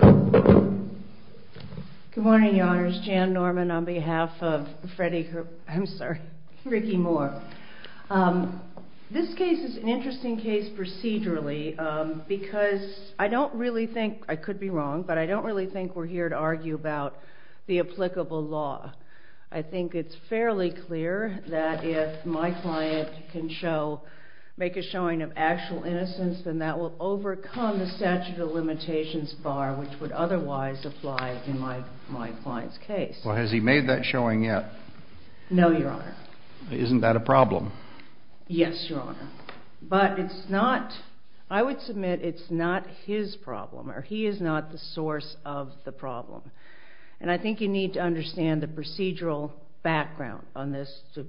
Good morning, Your Honors. Jan Norman on behalf of Ricky Moore. This case is an interesting case procedurally because I don't really think, I could be wrong, but I don't really think we're here to argue about the applicable law. I think it's fairly clear that if my client can show, make a showing of actual innocence, then that will overcome the statute of limitations bar which would otherwise apply in my client's case. Well, has he made that showing yet? No, Your Honor. Isn't that a problem? Yes, Your Honor. But it's not, I would submit it's not his problem, or he is not the source of the problem. And I think you need to understand the procedural background on this, to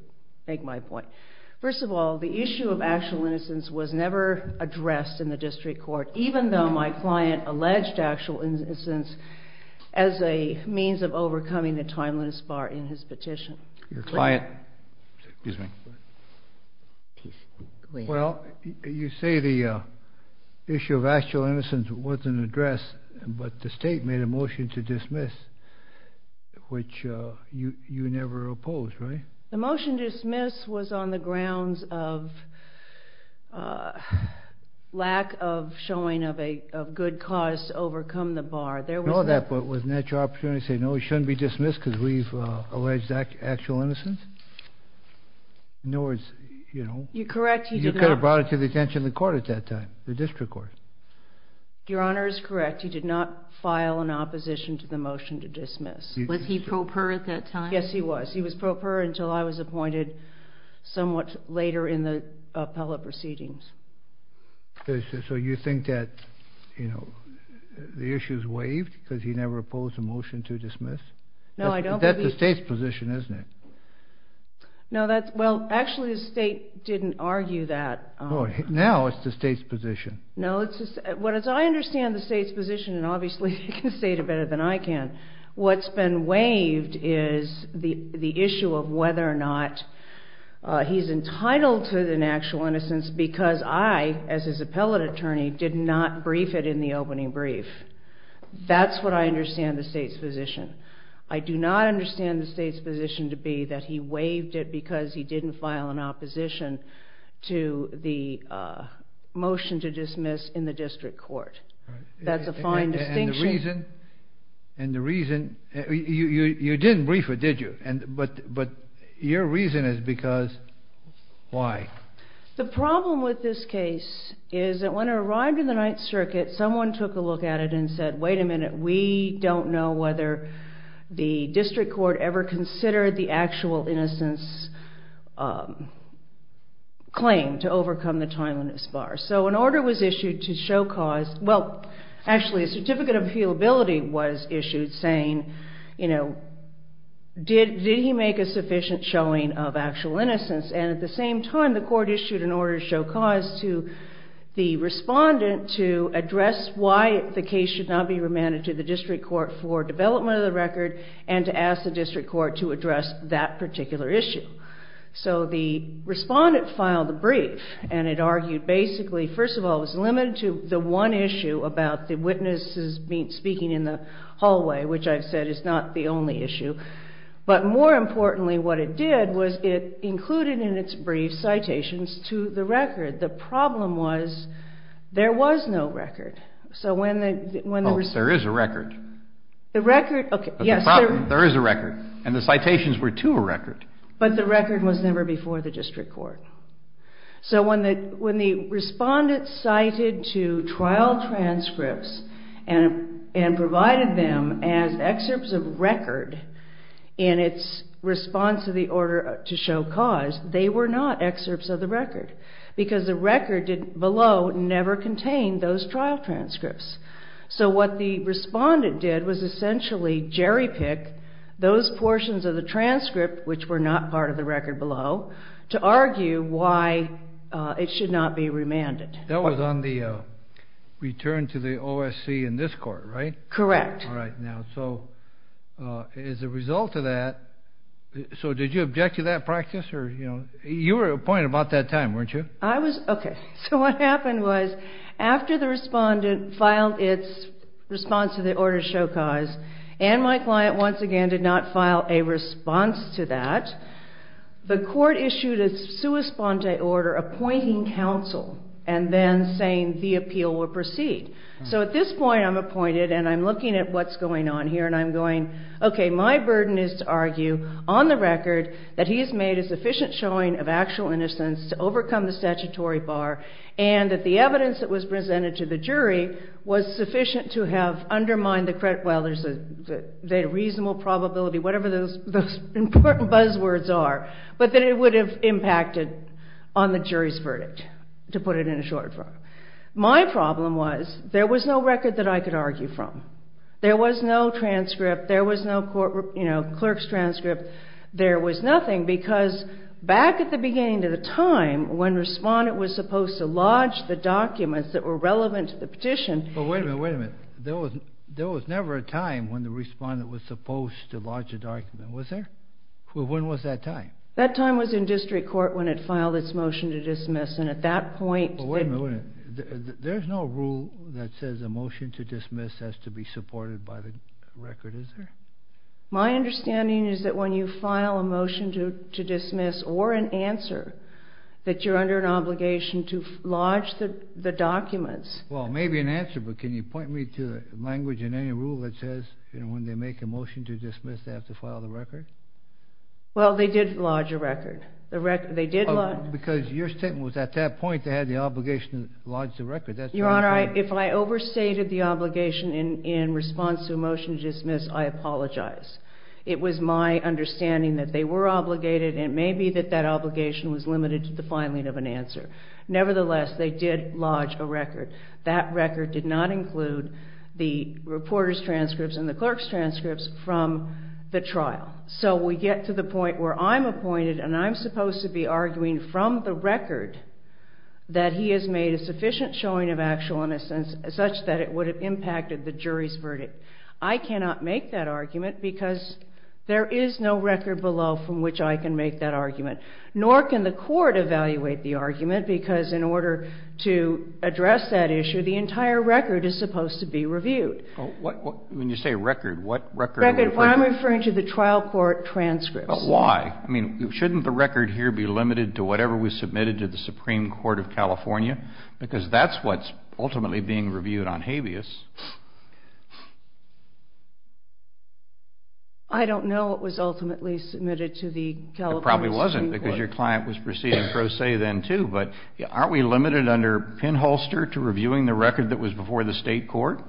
make my point. First of all, the issue of actual innocence was never addressed in the district court, even though my client alleged actual innocence as a means of overcoming the timeliness bar in his petition. Your client? Well, you say the issue of actual innocence wasn't addressed, but the state made a motion to dismiss, which you never opposed, right? The motion to dismiss was on the grounds of lack of showing of a good cause to overcome the bar. No, that was an actual opportunity to say, no, he shouldn't be dismissed because we've alleged actual innocence. In other words, you know. You're correct, you did not. You could have brought it to the attention of the court at that time, the district court. Your Honor is correct, you did not file an opposition to the motion to dismiss. Was he pro per at that time? Yes, he was. He was pro per until I was appointed somewhat later in the appellate proceedings. So you think that, you know, the issue is waived because he never opposed the motion to dismiss? No, I don't. That's the state's position, isn't it? No, that's, well, actually the state didn't argue that. No, now it's the state's position. No, it's, well, as I understand the state's position, and obviously you can say it better than I can, what's been waived is the issue of whether or not he's entitled to an actual innocence because I, as his appellate attorney, did not brief it in the opening brief. That's what I understand the state's position. I do not understand the state's position to be that he waived it because he didn't file an opposition to the motion to dismiss in the district court. That's a fine distinction. And the reason, and the reason, you didn't brief it, did you? But your reason is because, why? The problem with this case is that when it arrived in the Ninth Circuit, someone took a look at it and said, wait a minute, we don't know whether the district court ever considered the actual innocence claim to overcome the time limit of spars. So an order was issued to show cause, well, actually a certificate of appealability was issued saying, you know, did he make a sufficient showing of actual innocence? And at the same time, the court issued an order to show cause to the respondent to address why the case should not be remanded to the district court for development of the record and to ask the district court to address that particular issue. So the respondent filed the brief and it argued basically, first of all, it was limited to the one issue about the witnesses speaking in the hallway, which I've said is not the only issue. But more importantly, what it did was it included in its brief citations to the record. The problem was there was no record. So when the... Oh, there is a record. The record, okay, yes. There is a record and the citations were to a record. But the record was never before the district court. So when the respondent cited to trial transcripts and provided them as excerpts of record in its response to the order to show cause, they were not excerpts of the record because the record below never contained those trial transcripts. So what the respondent did was essentially jerry pick those portions of the transcript, which were not part of the record below, to argue why it should not be remanded. That was on the return to the OSC in this court, right? Correct. All right. Now, so as a result of that, so did you object to that practice or, you know, you were appointed about that time, weren't you? I was, okay. So what happened was after the respondent filed its response to the order to show cause, and my client once again did not file a response to that, the court issued a sua sponte order appointing counsel and then saying the appeal will proceed. So at this point I'm appointed and I'm looking at what's going on here and I'm going, okay, my burden is to argue on the record that he has made a sufficient showing of actual innocence to overcome the statutory bar and that the evidence that was presented to the jury was sufficient to have undermined the credit, well, there's a reasonable probability, whatever those important buzzwords are, but that it would have impacted on the jury's verdict, to put it in a short form. My problem was there was no record that I could argue from. There was no transcript. There was no court, you know, clerk's transcript. There was nothing because back at the beginning of the time when the respondent was supposed to lodge the documents that were relevant to the petition... But wait a minute, wait a minute. There was never a time when the respondent was supposed to lodge a document, was there? When was that time? That time was in district court when it filed its motion to dismiss, and at that point... But wait a minute, wait a minute. There's no rule that says a motion to dismiss has to be supported by the record, is there? My understanding is that when you file a motion to dismiss or an answer, that you're under an obligation to lodge the documents. Well, maybe an answer, but can you point me to language in any rule that says, you know, when they make a motion to dismiss, they have to file the record? Well, they did lodge a record. They did lodge... Because your statement was at that point, they had the obligation to lodge the record. Your Honor, if I overstated the obligation in response to a motion to dismiss, I apologize. It was my understanding that they were obligated, and it may be that that obligation was limited to the filing of an answer. Nevertheless, they did lodge a record. That record did not include the reporter's transcripts and the clerk's transcripts from the trial. So we get to the point where I'm appointed and I'm supposed to be arguing from the record that he has made a sufficient showing of actual innocence such that it would have impacted the jury's verdict. I cannot make that argument because there is no record below from which I can make that argument. Nor can the court evaluate the argument because in order to address that issue, the entire record is supposed to be reviewed. When you say record, what record are you referring to? Record. I'm referring to the trial court transcripts. But why? I mean, shouldn't the record here be limited to whatever was submitted to the California Supreme Court? Because that's what's ultimately being reviewed on habeas. I don't know what was ultimately submitted to the California Supreme Court. It probably wasn't because your client was proceeding pro se then, too. But aren't we limited under pinholster to reviewing the record that was before the state court?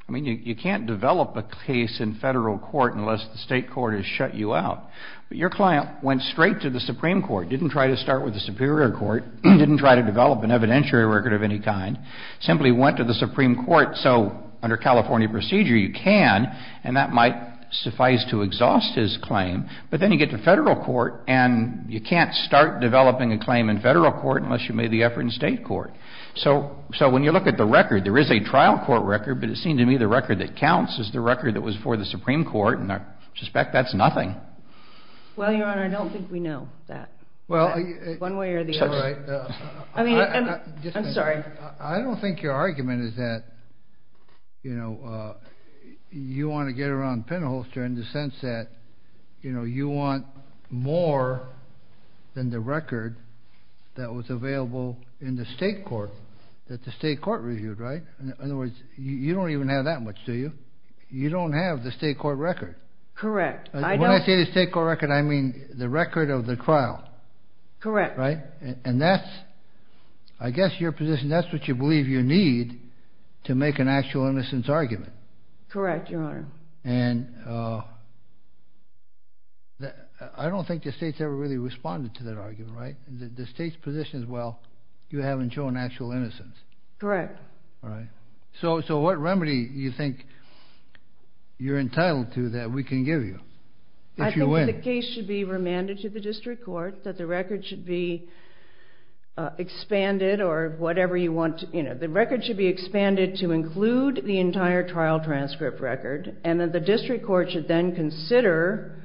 I don't think it's limited to that. We're talking about the record that was before the Supreme Court. The record that was before the Supreme Court is shut you out. But your client went straight to the Supreme Court, didn't try to start with the Superior Court, didn't try to develop an evidentiary record of any kind, simply went to the Supreme Court so under California procedure you can and that might suffice to exhaust his claim. But then you get to federal court and you can't start developing a claim in federal court unless you made the effort in state court. So when you look at the record, there is a trial court record. But it seems to me the record that counts is the record that was before the Supreme Court. And I suspect that's nothing. Well, Your Honor, I don't think we know that. I don't think your argument is that you want to get around pinholster in the sense that you want more than the record that was available in the state court, that the state court reviewed, right? In other words, you don't even have that much, do you? You don't have the state court record. Correct. When I say the state court record, I mean the record of the trial. Correct. Right? And that's, I guess your position, that's what you believe you need to make an actual innocence argument. Correct, Your Honor. And I don't think the state's ever really responded to that argument, right? The state's position is, well, you haven't shown actual innocence. Correct. All right. So what remedy do you think you're entitled to that we can give you? I think the case should be remanded to the district court, that the record should be expanded or whatever you want. The record should be expanded to include the entire trial transcript record, and that the district court should then consider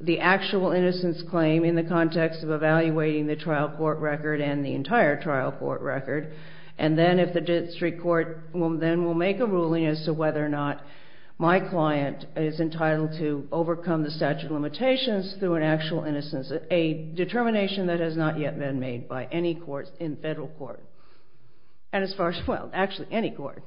the actual innocence claim in the context of evaluating the trial court record and the entire trial court record. And then if the district court then will make a ruling as to whether or not my client is entitled to overcome the statute of limitations through an actual innocence, a determination that has not yet been made by any court in federal court, and as far as, well, actually any court.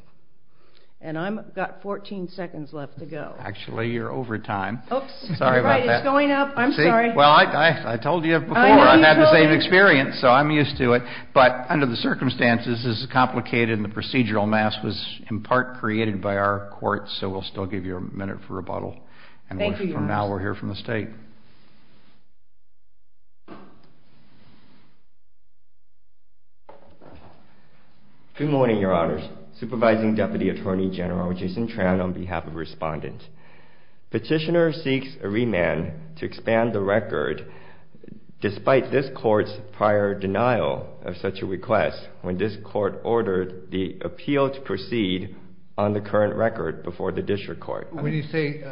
And I've got 14 seconds left to go. Actually, you're over time. Oops. Sorry about that. You're right. It's going up. I'm sorry. Well, I told you before, I've had the same experience, so I'm used to it. But under the circumstances, this is complicated, and the procedural amass was in part created by our court, so we'll still give you a minute for rebuttal. Thank you, Your Honor. And now we'll hear from the State. Good morning, Your Honors. Supervising Deputy Attorney General Jason Tran on behalf of Respondent. Petitioner seeks a remand to expand the record, despite this court's prior denial of such a request when this court ordered the appeal to proceed on the current record before the district court. When you say,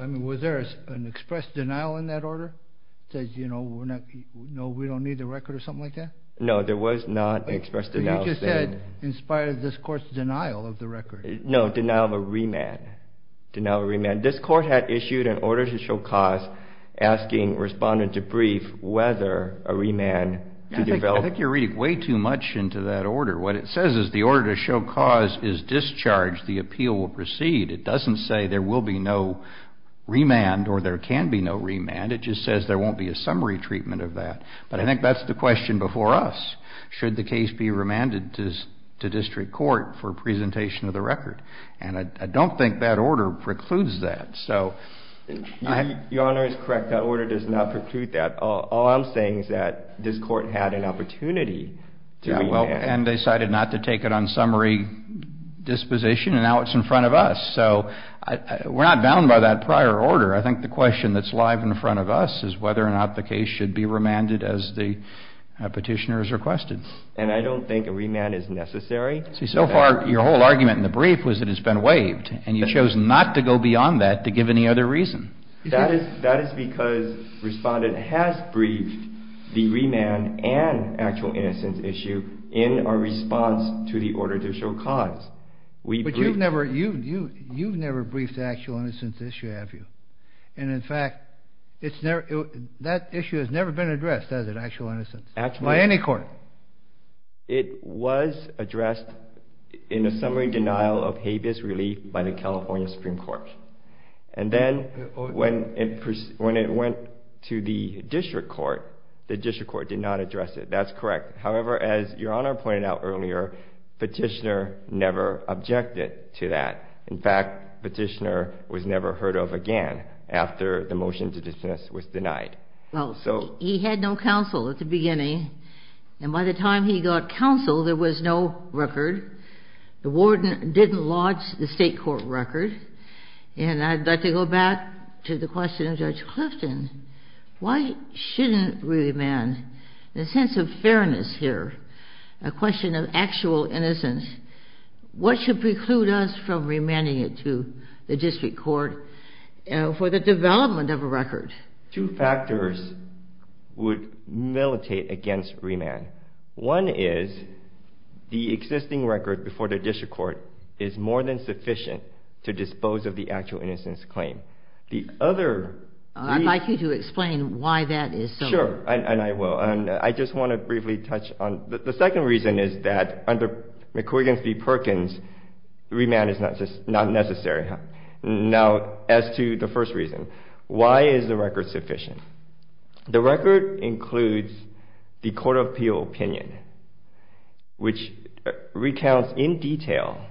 I mean, was there an expressed denial in that order? It says, you know, we're not, no, we don't need the record or something like that? No, there was not an expressed denial. But you just said, in spite of this court's denial of the record. No, denial of a remand. Denial of a remand. This court had issued an order to show cause asking Respondent to brief whether a remand to develop... I think you're reading way too much into that order. What it says is the order to show cause is discharged, the appeal will proceed. It doesn't say there will be no remand or there can be no remand. It just says there won't be a summary treatment of that. But I think that's the question before us. Should the case be remanded to district court for presentation of the record? And I don't think that order precludes that. Your Honor is correct. That order does not preclude that. All I'm saying is that this court had an opportunity to remand. And they decided not to take it on summary disposition and now it's in front of us. So we're not bound by that prior order. I think the question that's live in front of us is whether or not the case should be remanded as the petitioner has requested. And I don't think a remand is necessary. See, so far, your whole argument in the brief was that it's been waived. And you chose not to go beyond that to give any other reason. That is because Respondent has briefed the remand and actual innocence issue in our response to the order to show cause. But you've never briefed the actual innocence issue, have you? And in fact, that issue has never been addressed, has it, actual innocence? By any court? It was addressed in a summary denial of habeas relief by the California Supreme Court. And then when it went to the district court, the district court did not address it. That's correct. However, as your Honor pointed out earlier, petitioner never objected to that. In fact, petitioner was never heard of again after the motion to dismiss was denied. Well, he had no counsel at the beginning. And by the time he got counsel, there was no record. The warden didn't lodge the state court record. And I'd like to go back to the question of Judge Clifton. Why shouldn't remand? The sense of fairness here, a question of actual innocence. What should preclude us from remanding it to the district court for the development of a record? Two factors would militate against remand. One is the existing record before the district court is more than sufficient to dispose of the actual innocence claim. The other... I'd like you to explain why that is so. Sure, and I will. I just want to briefly touch on... The second reason is that under McCuigan v. Perkins, remand is not necessary. Now, as to the first reason, why is the record sufficient? The record includes the Court of Appeal opinion, which recounts in detail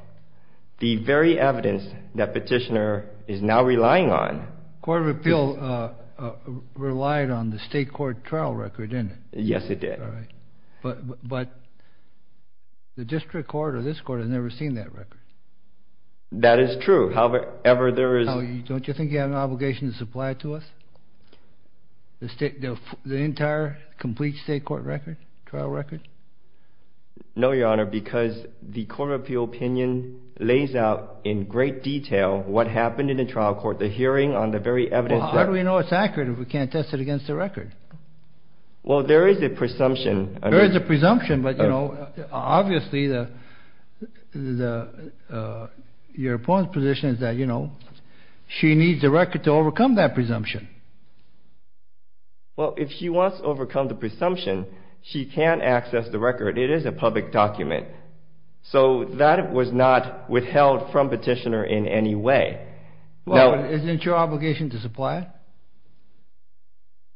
the very evidence that petitioner is now relying on. Court of Appeal relied on the state court trial record, didn't it? Yes, it did. But the district court or this court has never seen that record. That is true. However, there is... Don't you think you have an obligation to supply to us the entire complete state court record, trial record? No, Your Honor, because the Court of Appeal opinion lays out in great detail what happened in the trial court, the hearing on the very evidence that... Well, how do we know it's accurate if we can't test it against the record? Well, there is a presumption... There is a presumption, but obviously your opponent's position is that she needs a record to overcome that presumption. Well, if she wants to overcome the presumption, she can access the record. It is a public document. So that was not withheld from petitioner in any way. Well, isn't your obligation to supply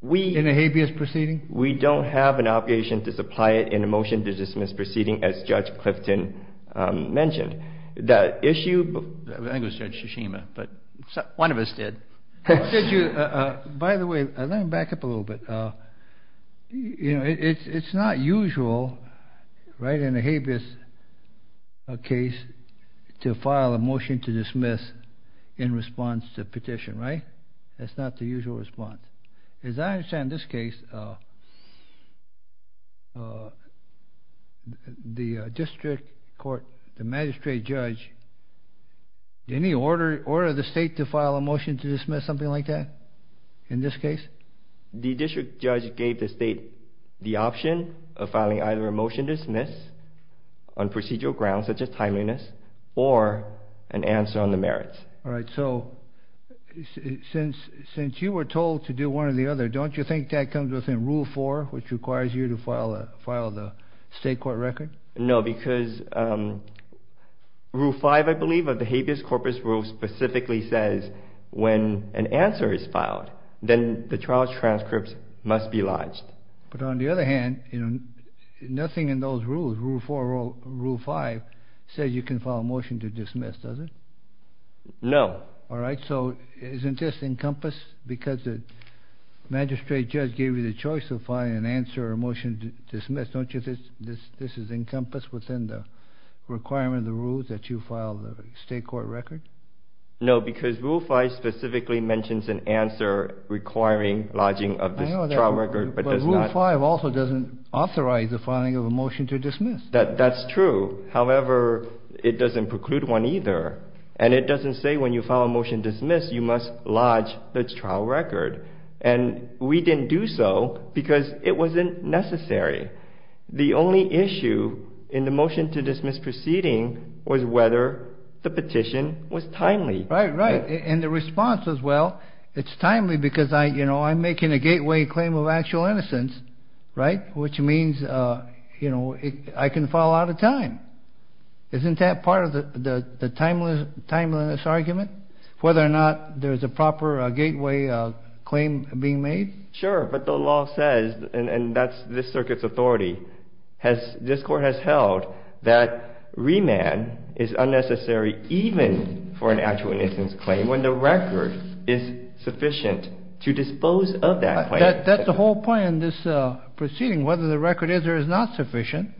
it in a habeas proceeding? We don't have an obligation to supply it in a motion to dismiss proceeding as Judge Clifton mentioned. The issue... I think it was Judge Shishima, but one of us did. By the way, let me back up a little bit. You know, it's not usual, right, in a habeas case to file a motion to dismiss in response to petition, right? That's not the usual response. As I understand this case, the district court, the magistrate judge, didn't he order the state to file a motion to dismiss, something like that, in this case? The district judge gave the state the option of filing either a motion to dismiss on procedural grounds such as timeliness, or an answer on the merits. All right, so since you were told to do one or the other, don't you think that comes within Rule 4, which requires you to file the state court record? No, because Rule 5, I believe, of the habeas corpus rule specifically says when an answer is filed, then the trial transcripts must be lodged. But on the other hand, nothing in those rules, Rule 4 or Rule 5, says you can file a motion to dismiss, does it? No. All right, so isn't this encompassed? Because the magistrate judge gave you the choice of filing an answer or a motion to dismiss, don't you think this is encompassed within the requirement of the rules that you file the state court record? No, because Rule 5 specifically mentions an answer requiring lodging of this trial record, but does not... But Rule 5 also doesn't authorize the filing of a motion to dismiss. That's true. However, it doesn't preclude one either. And it doesn't say when you file a motion to dismiss, you must lodge the trial record. And we didn't do so because it wasn't necessary. The only issue in the motion to dismiss proceeding was whether the petition was timely. Right, right. And the response was, well, it's timely because I'm making a gateway claim of actual innocence, right? Which means, you know, I can file out of time. Isn't that part of the timeliness argument? Whether or not there's a proper gateway claim being made? Sure, but the law says, and that's this circuit's authority, this court has held that remand is unnecessary even for an actual innocence claim when the record is sufficient to dispose of that claim. That's the whole point in this proceeding, whether the record is or is not sufficient.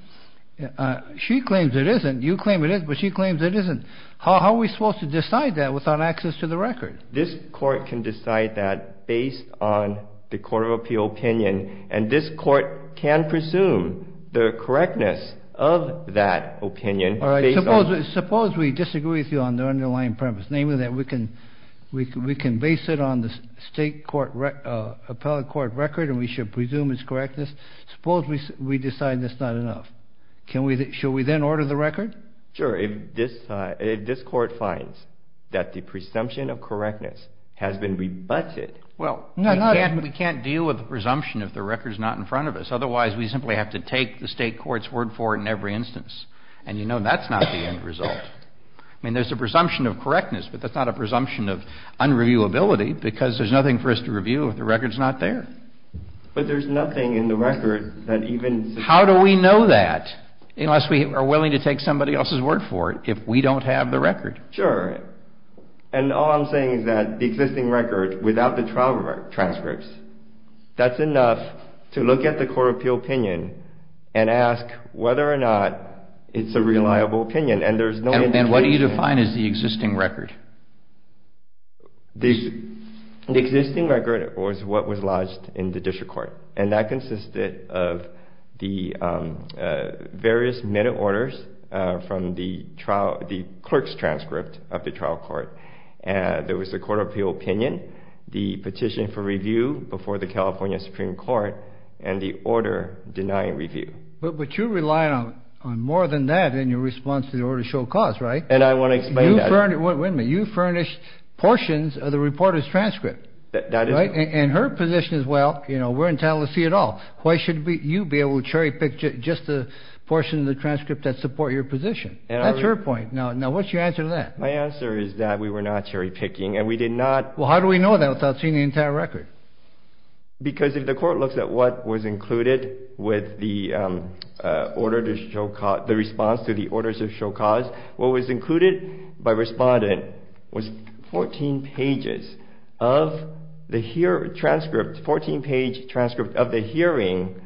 She claims it isn't. You claim it is, but she claims it isn't. How are we supposed to decide that without access to the record? This court can decide that based on the court of appeal opinion, and this court can presume the correctness of that opinion based on... Suppose we disagree with you on the underlying premise, namely that we can base it on the state appellate court record and we should presume its correctness. Suppose we decide that's not enough. Shall we then order the record? Sure, if this court finds that the presumption of correctness has been rebutted... Well, we can't deal with the presumption if the record's not in front of us. Otherwise, we simply have to take the state court's word for it in every instance. And you know that's not the end result. I mean, there's a presumption of correctness, but that's not a presumption of unreviewability because there's nothing for us to review if the record's not there. But there's nothing in the record that even... How do we know that unless we are willing to take somebody else's word for it if we don't have the record? Sure. And all I'm saying is that the existing record, without the trial transcripts, that's enough to look at the court of appeal opinion and ask whether or not it's a reliable opinion. And what do you define as the existing record? The existing record was what was lodged in the district court. And that consisted of the various minute orders from the clerk's transcript of the trial court. There was the court of appeal opinion, the petition for review before the California Supreme Court, and the order denying review. But you rely on more than that in your response to the order to show cause, right? And I want to explain that. Wait a minute. You furnished portions of the reporter's transcript, right? And her position is, well, you know, we're entitled to see it all. Why should you be able to cherry-pick just a portion of the transcript that supports your position? That's her point. Now, what's your answer to that? My answer is that we were not cherry-picking and we did not... Well, how do we know that without seeing the entire record? Because if the court looks at what was included with the response to the orders to show cause, what was included by Respondent was 14 pages of the transcript, 14-page transcript of the hearing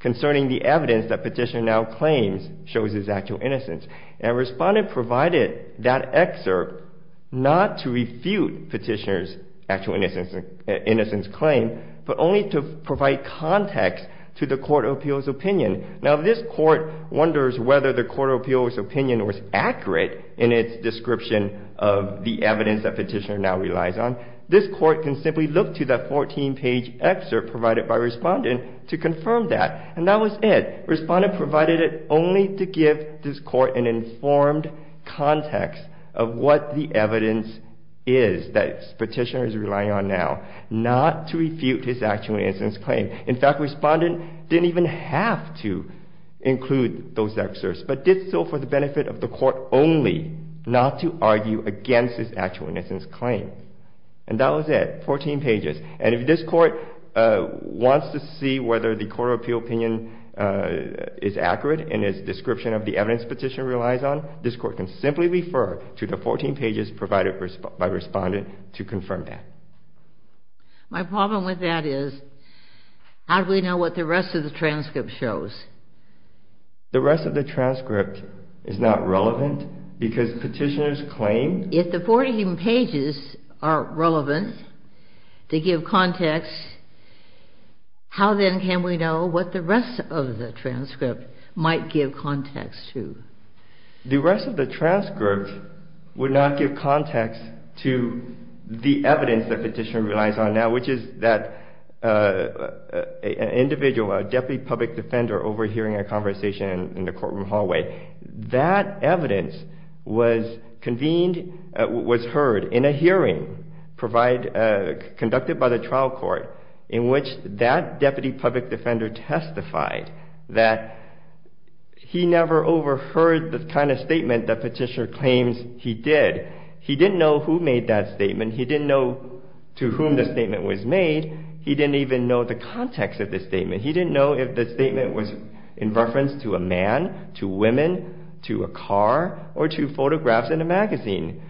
concerning the evidence that Petitioner now claims shows his actual innocence. And Respondent provided that excerpt not to refute Petitioner's actual innocence claim, but only to provide context to the Court of Appeals' opinion. Now, if this Court wonders whether the Court of Appeals' opinion was accurate in its description of the evidence that Petitioner now relies on, this Court can simply look to that 14-page excerpt provided by Respondent to confirm that. And that was it. Respondent provided it only to give this Court an informed context of what the evidence is that Petitioner is relying on now, not to refute his actual innocence claim. In fact, Respondent didn't even have to include those excerpts, but did so for the benefit of the Court only, not to argue against his actual innocence claim. And that was it, 14 pages. And if this Court wants to see whether the Court of Appeals' opinion is accurate in its description of the evidence Petitioner relies on, this Court can simply refer to the 14 pages provided by Respondent to confirm that. My problem with that is, how do we know what the rest of the transcript shows? The rest of the transcript is not relevant because Petitioner's claim... If the 14 pages are relevant to give context, how then can we know what the rest of the transcript might give context to? The rest of the transcript would not give context to the evidence that Petitioner relies on now, which is that an individual, a deputy public defender, overhearing a conversation in the courtroom hallway, that evidence was heard in a hearing conducted by the trial court in which that deputy public defender testified that he never overheard the kind of statement that Petitioner claims he did. He didn't know who made that statement. He didn't know to whom the statement was made. He didn't even know the context of the statement. He didn't know if the statement was in reference to a man, to women, to a car, or to photographs in a magazine.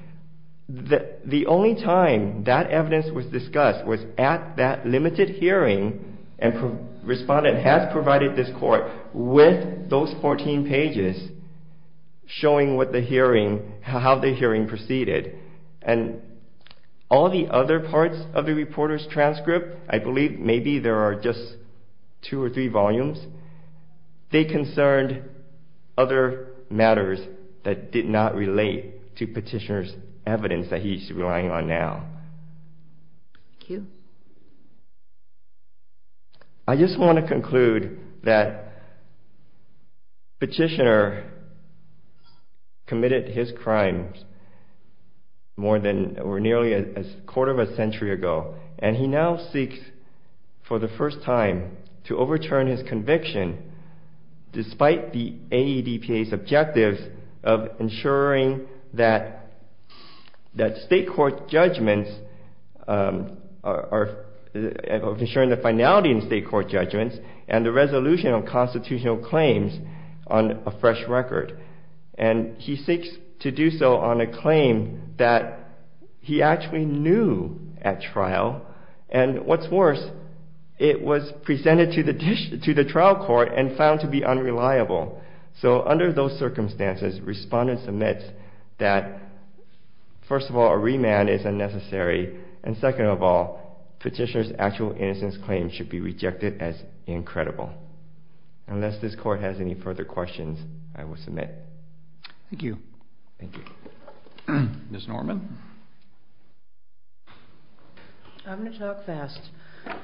The only time that evidence was discussed was at that limited hearing and Respondent has provided this court with those 14 pages showing how the hearing proceeded. All the other parts of the reporter's transcript, I believe maybe there are just two or three volumes, they concerned other matters that did not relate to Petitioner's evidence that he's relying on now. Thank you. I just want to conclude that Petitioner committed his crimes more than or nearly a quarter of a century ago and he now seeks for the first time to overturn his conviction despite the AEDPA's objectives of ensuring that state court judgments, of ensuring the finality in state court judgments and the resolution of constitutional claims on a fresh record. And he seeks to do so on a claim that he actually knew at trial and what's worse, it was presented to the trial court and found to be unreliable. So under those circumstances, Respondent submits that first of all, a remand is unnecessary and second of all, Petitioner's actual innocence claim should be rejected as incredible. Unless this court has any further questions, I will submit. Thank you. Ms. Norman. I'm going to talk fast.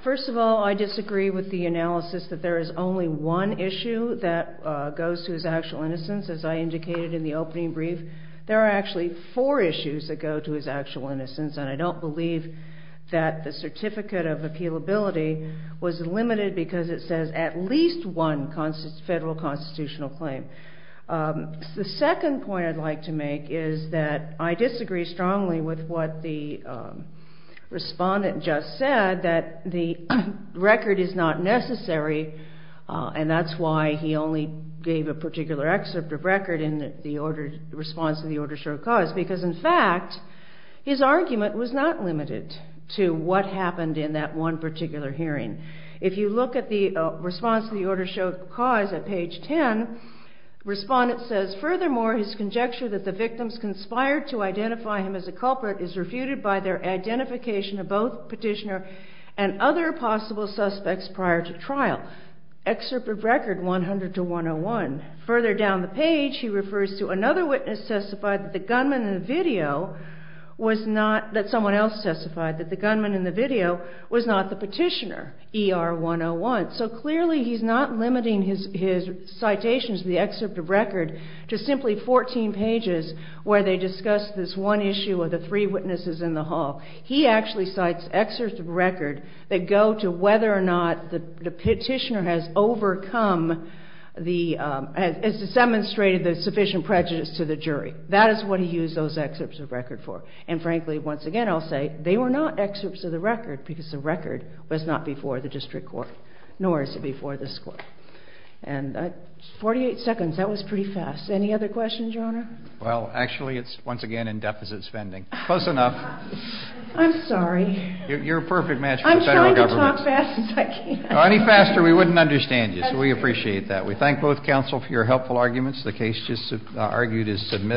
First of all, I disagree with the analysis that there is only one issue that goes to his actual innocence as I indicated in the opening brief. There are actually four issues that go to his actual innocence and I don't believe that the certificate of appealability was limited because it says at least one federal constitutional claim. The second point I'd like to make is that I disagree strongly with what the Respondent just said that the record is not necessary and that's why he only gave a particular excerpt of record in the response to the order of short cause because in fact, his argument was not limited to what happened in that one particular hearing. If you look at the response to the order of short cause at page 10, Respondent says, furthermore, his conjecture that the victims conspired to identify him as a culprit is refuted by their identification of both petitioner and other possible suspects prior to trial. Excerpt of record 100-101. Further down the page, he refers to another witness that testified that the gunman in the video was not, that someone else testified that the gunman in the video was not the petitioner, ER 101. So clearly, he's not limiting his citations, the excerpt of record, to simply 14 pages where they discuss this one issue of the three witnesses in the hall. He actually cites excerpts of record that go to whether or not the petitioner has overcome, has demonstrated the sufficient prejudice to the jury. That is what he used those excerpts of record for. And frankly, once again, I'll say, they were not excerpts of the record because the record was not before the district court, nor is it before this court. And 48 seconds, that was pretty fast. Any other questions, Your Honor? Well, actually, it's once again in deficit spending. Close enough. I'm sorry. You're a perfect match for the federal government. I'm trying to talk fast as I can. Any faster, we wouldn't understand you, so we appreciate that. We thank both counsel for your helpful arguments. The case just argued is submitted.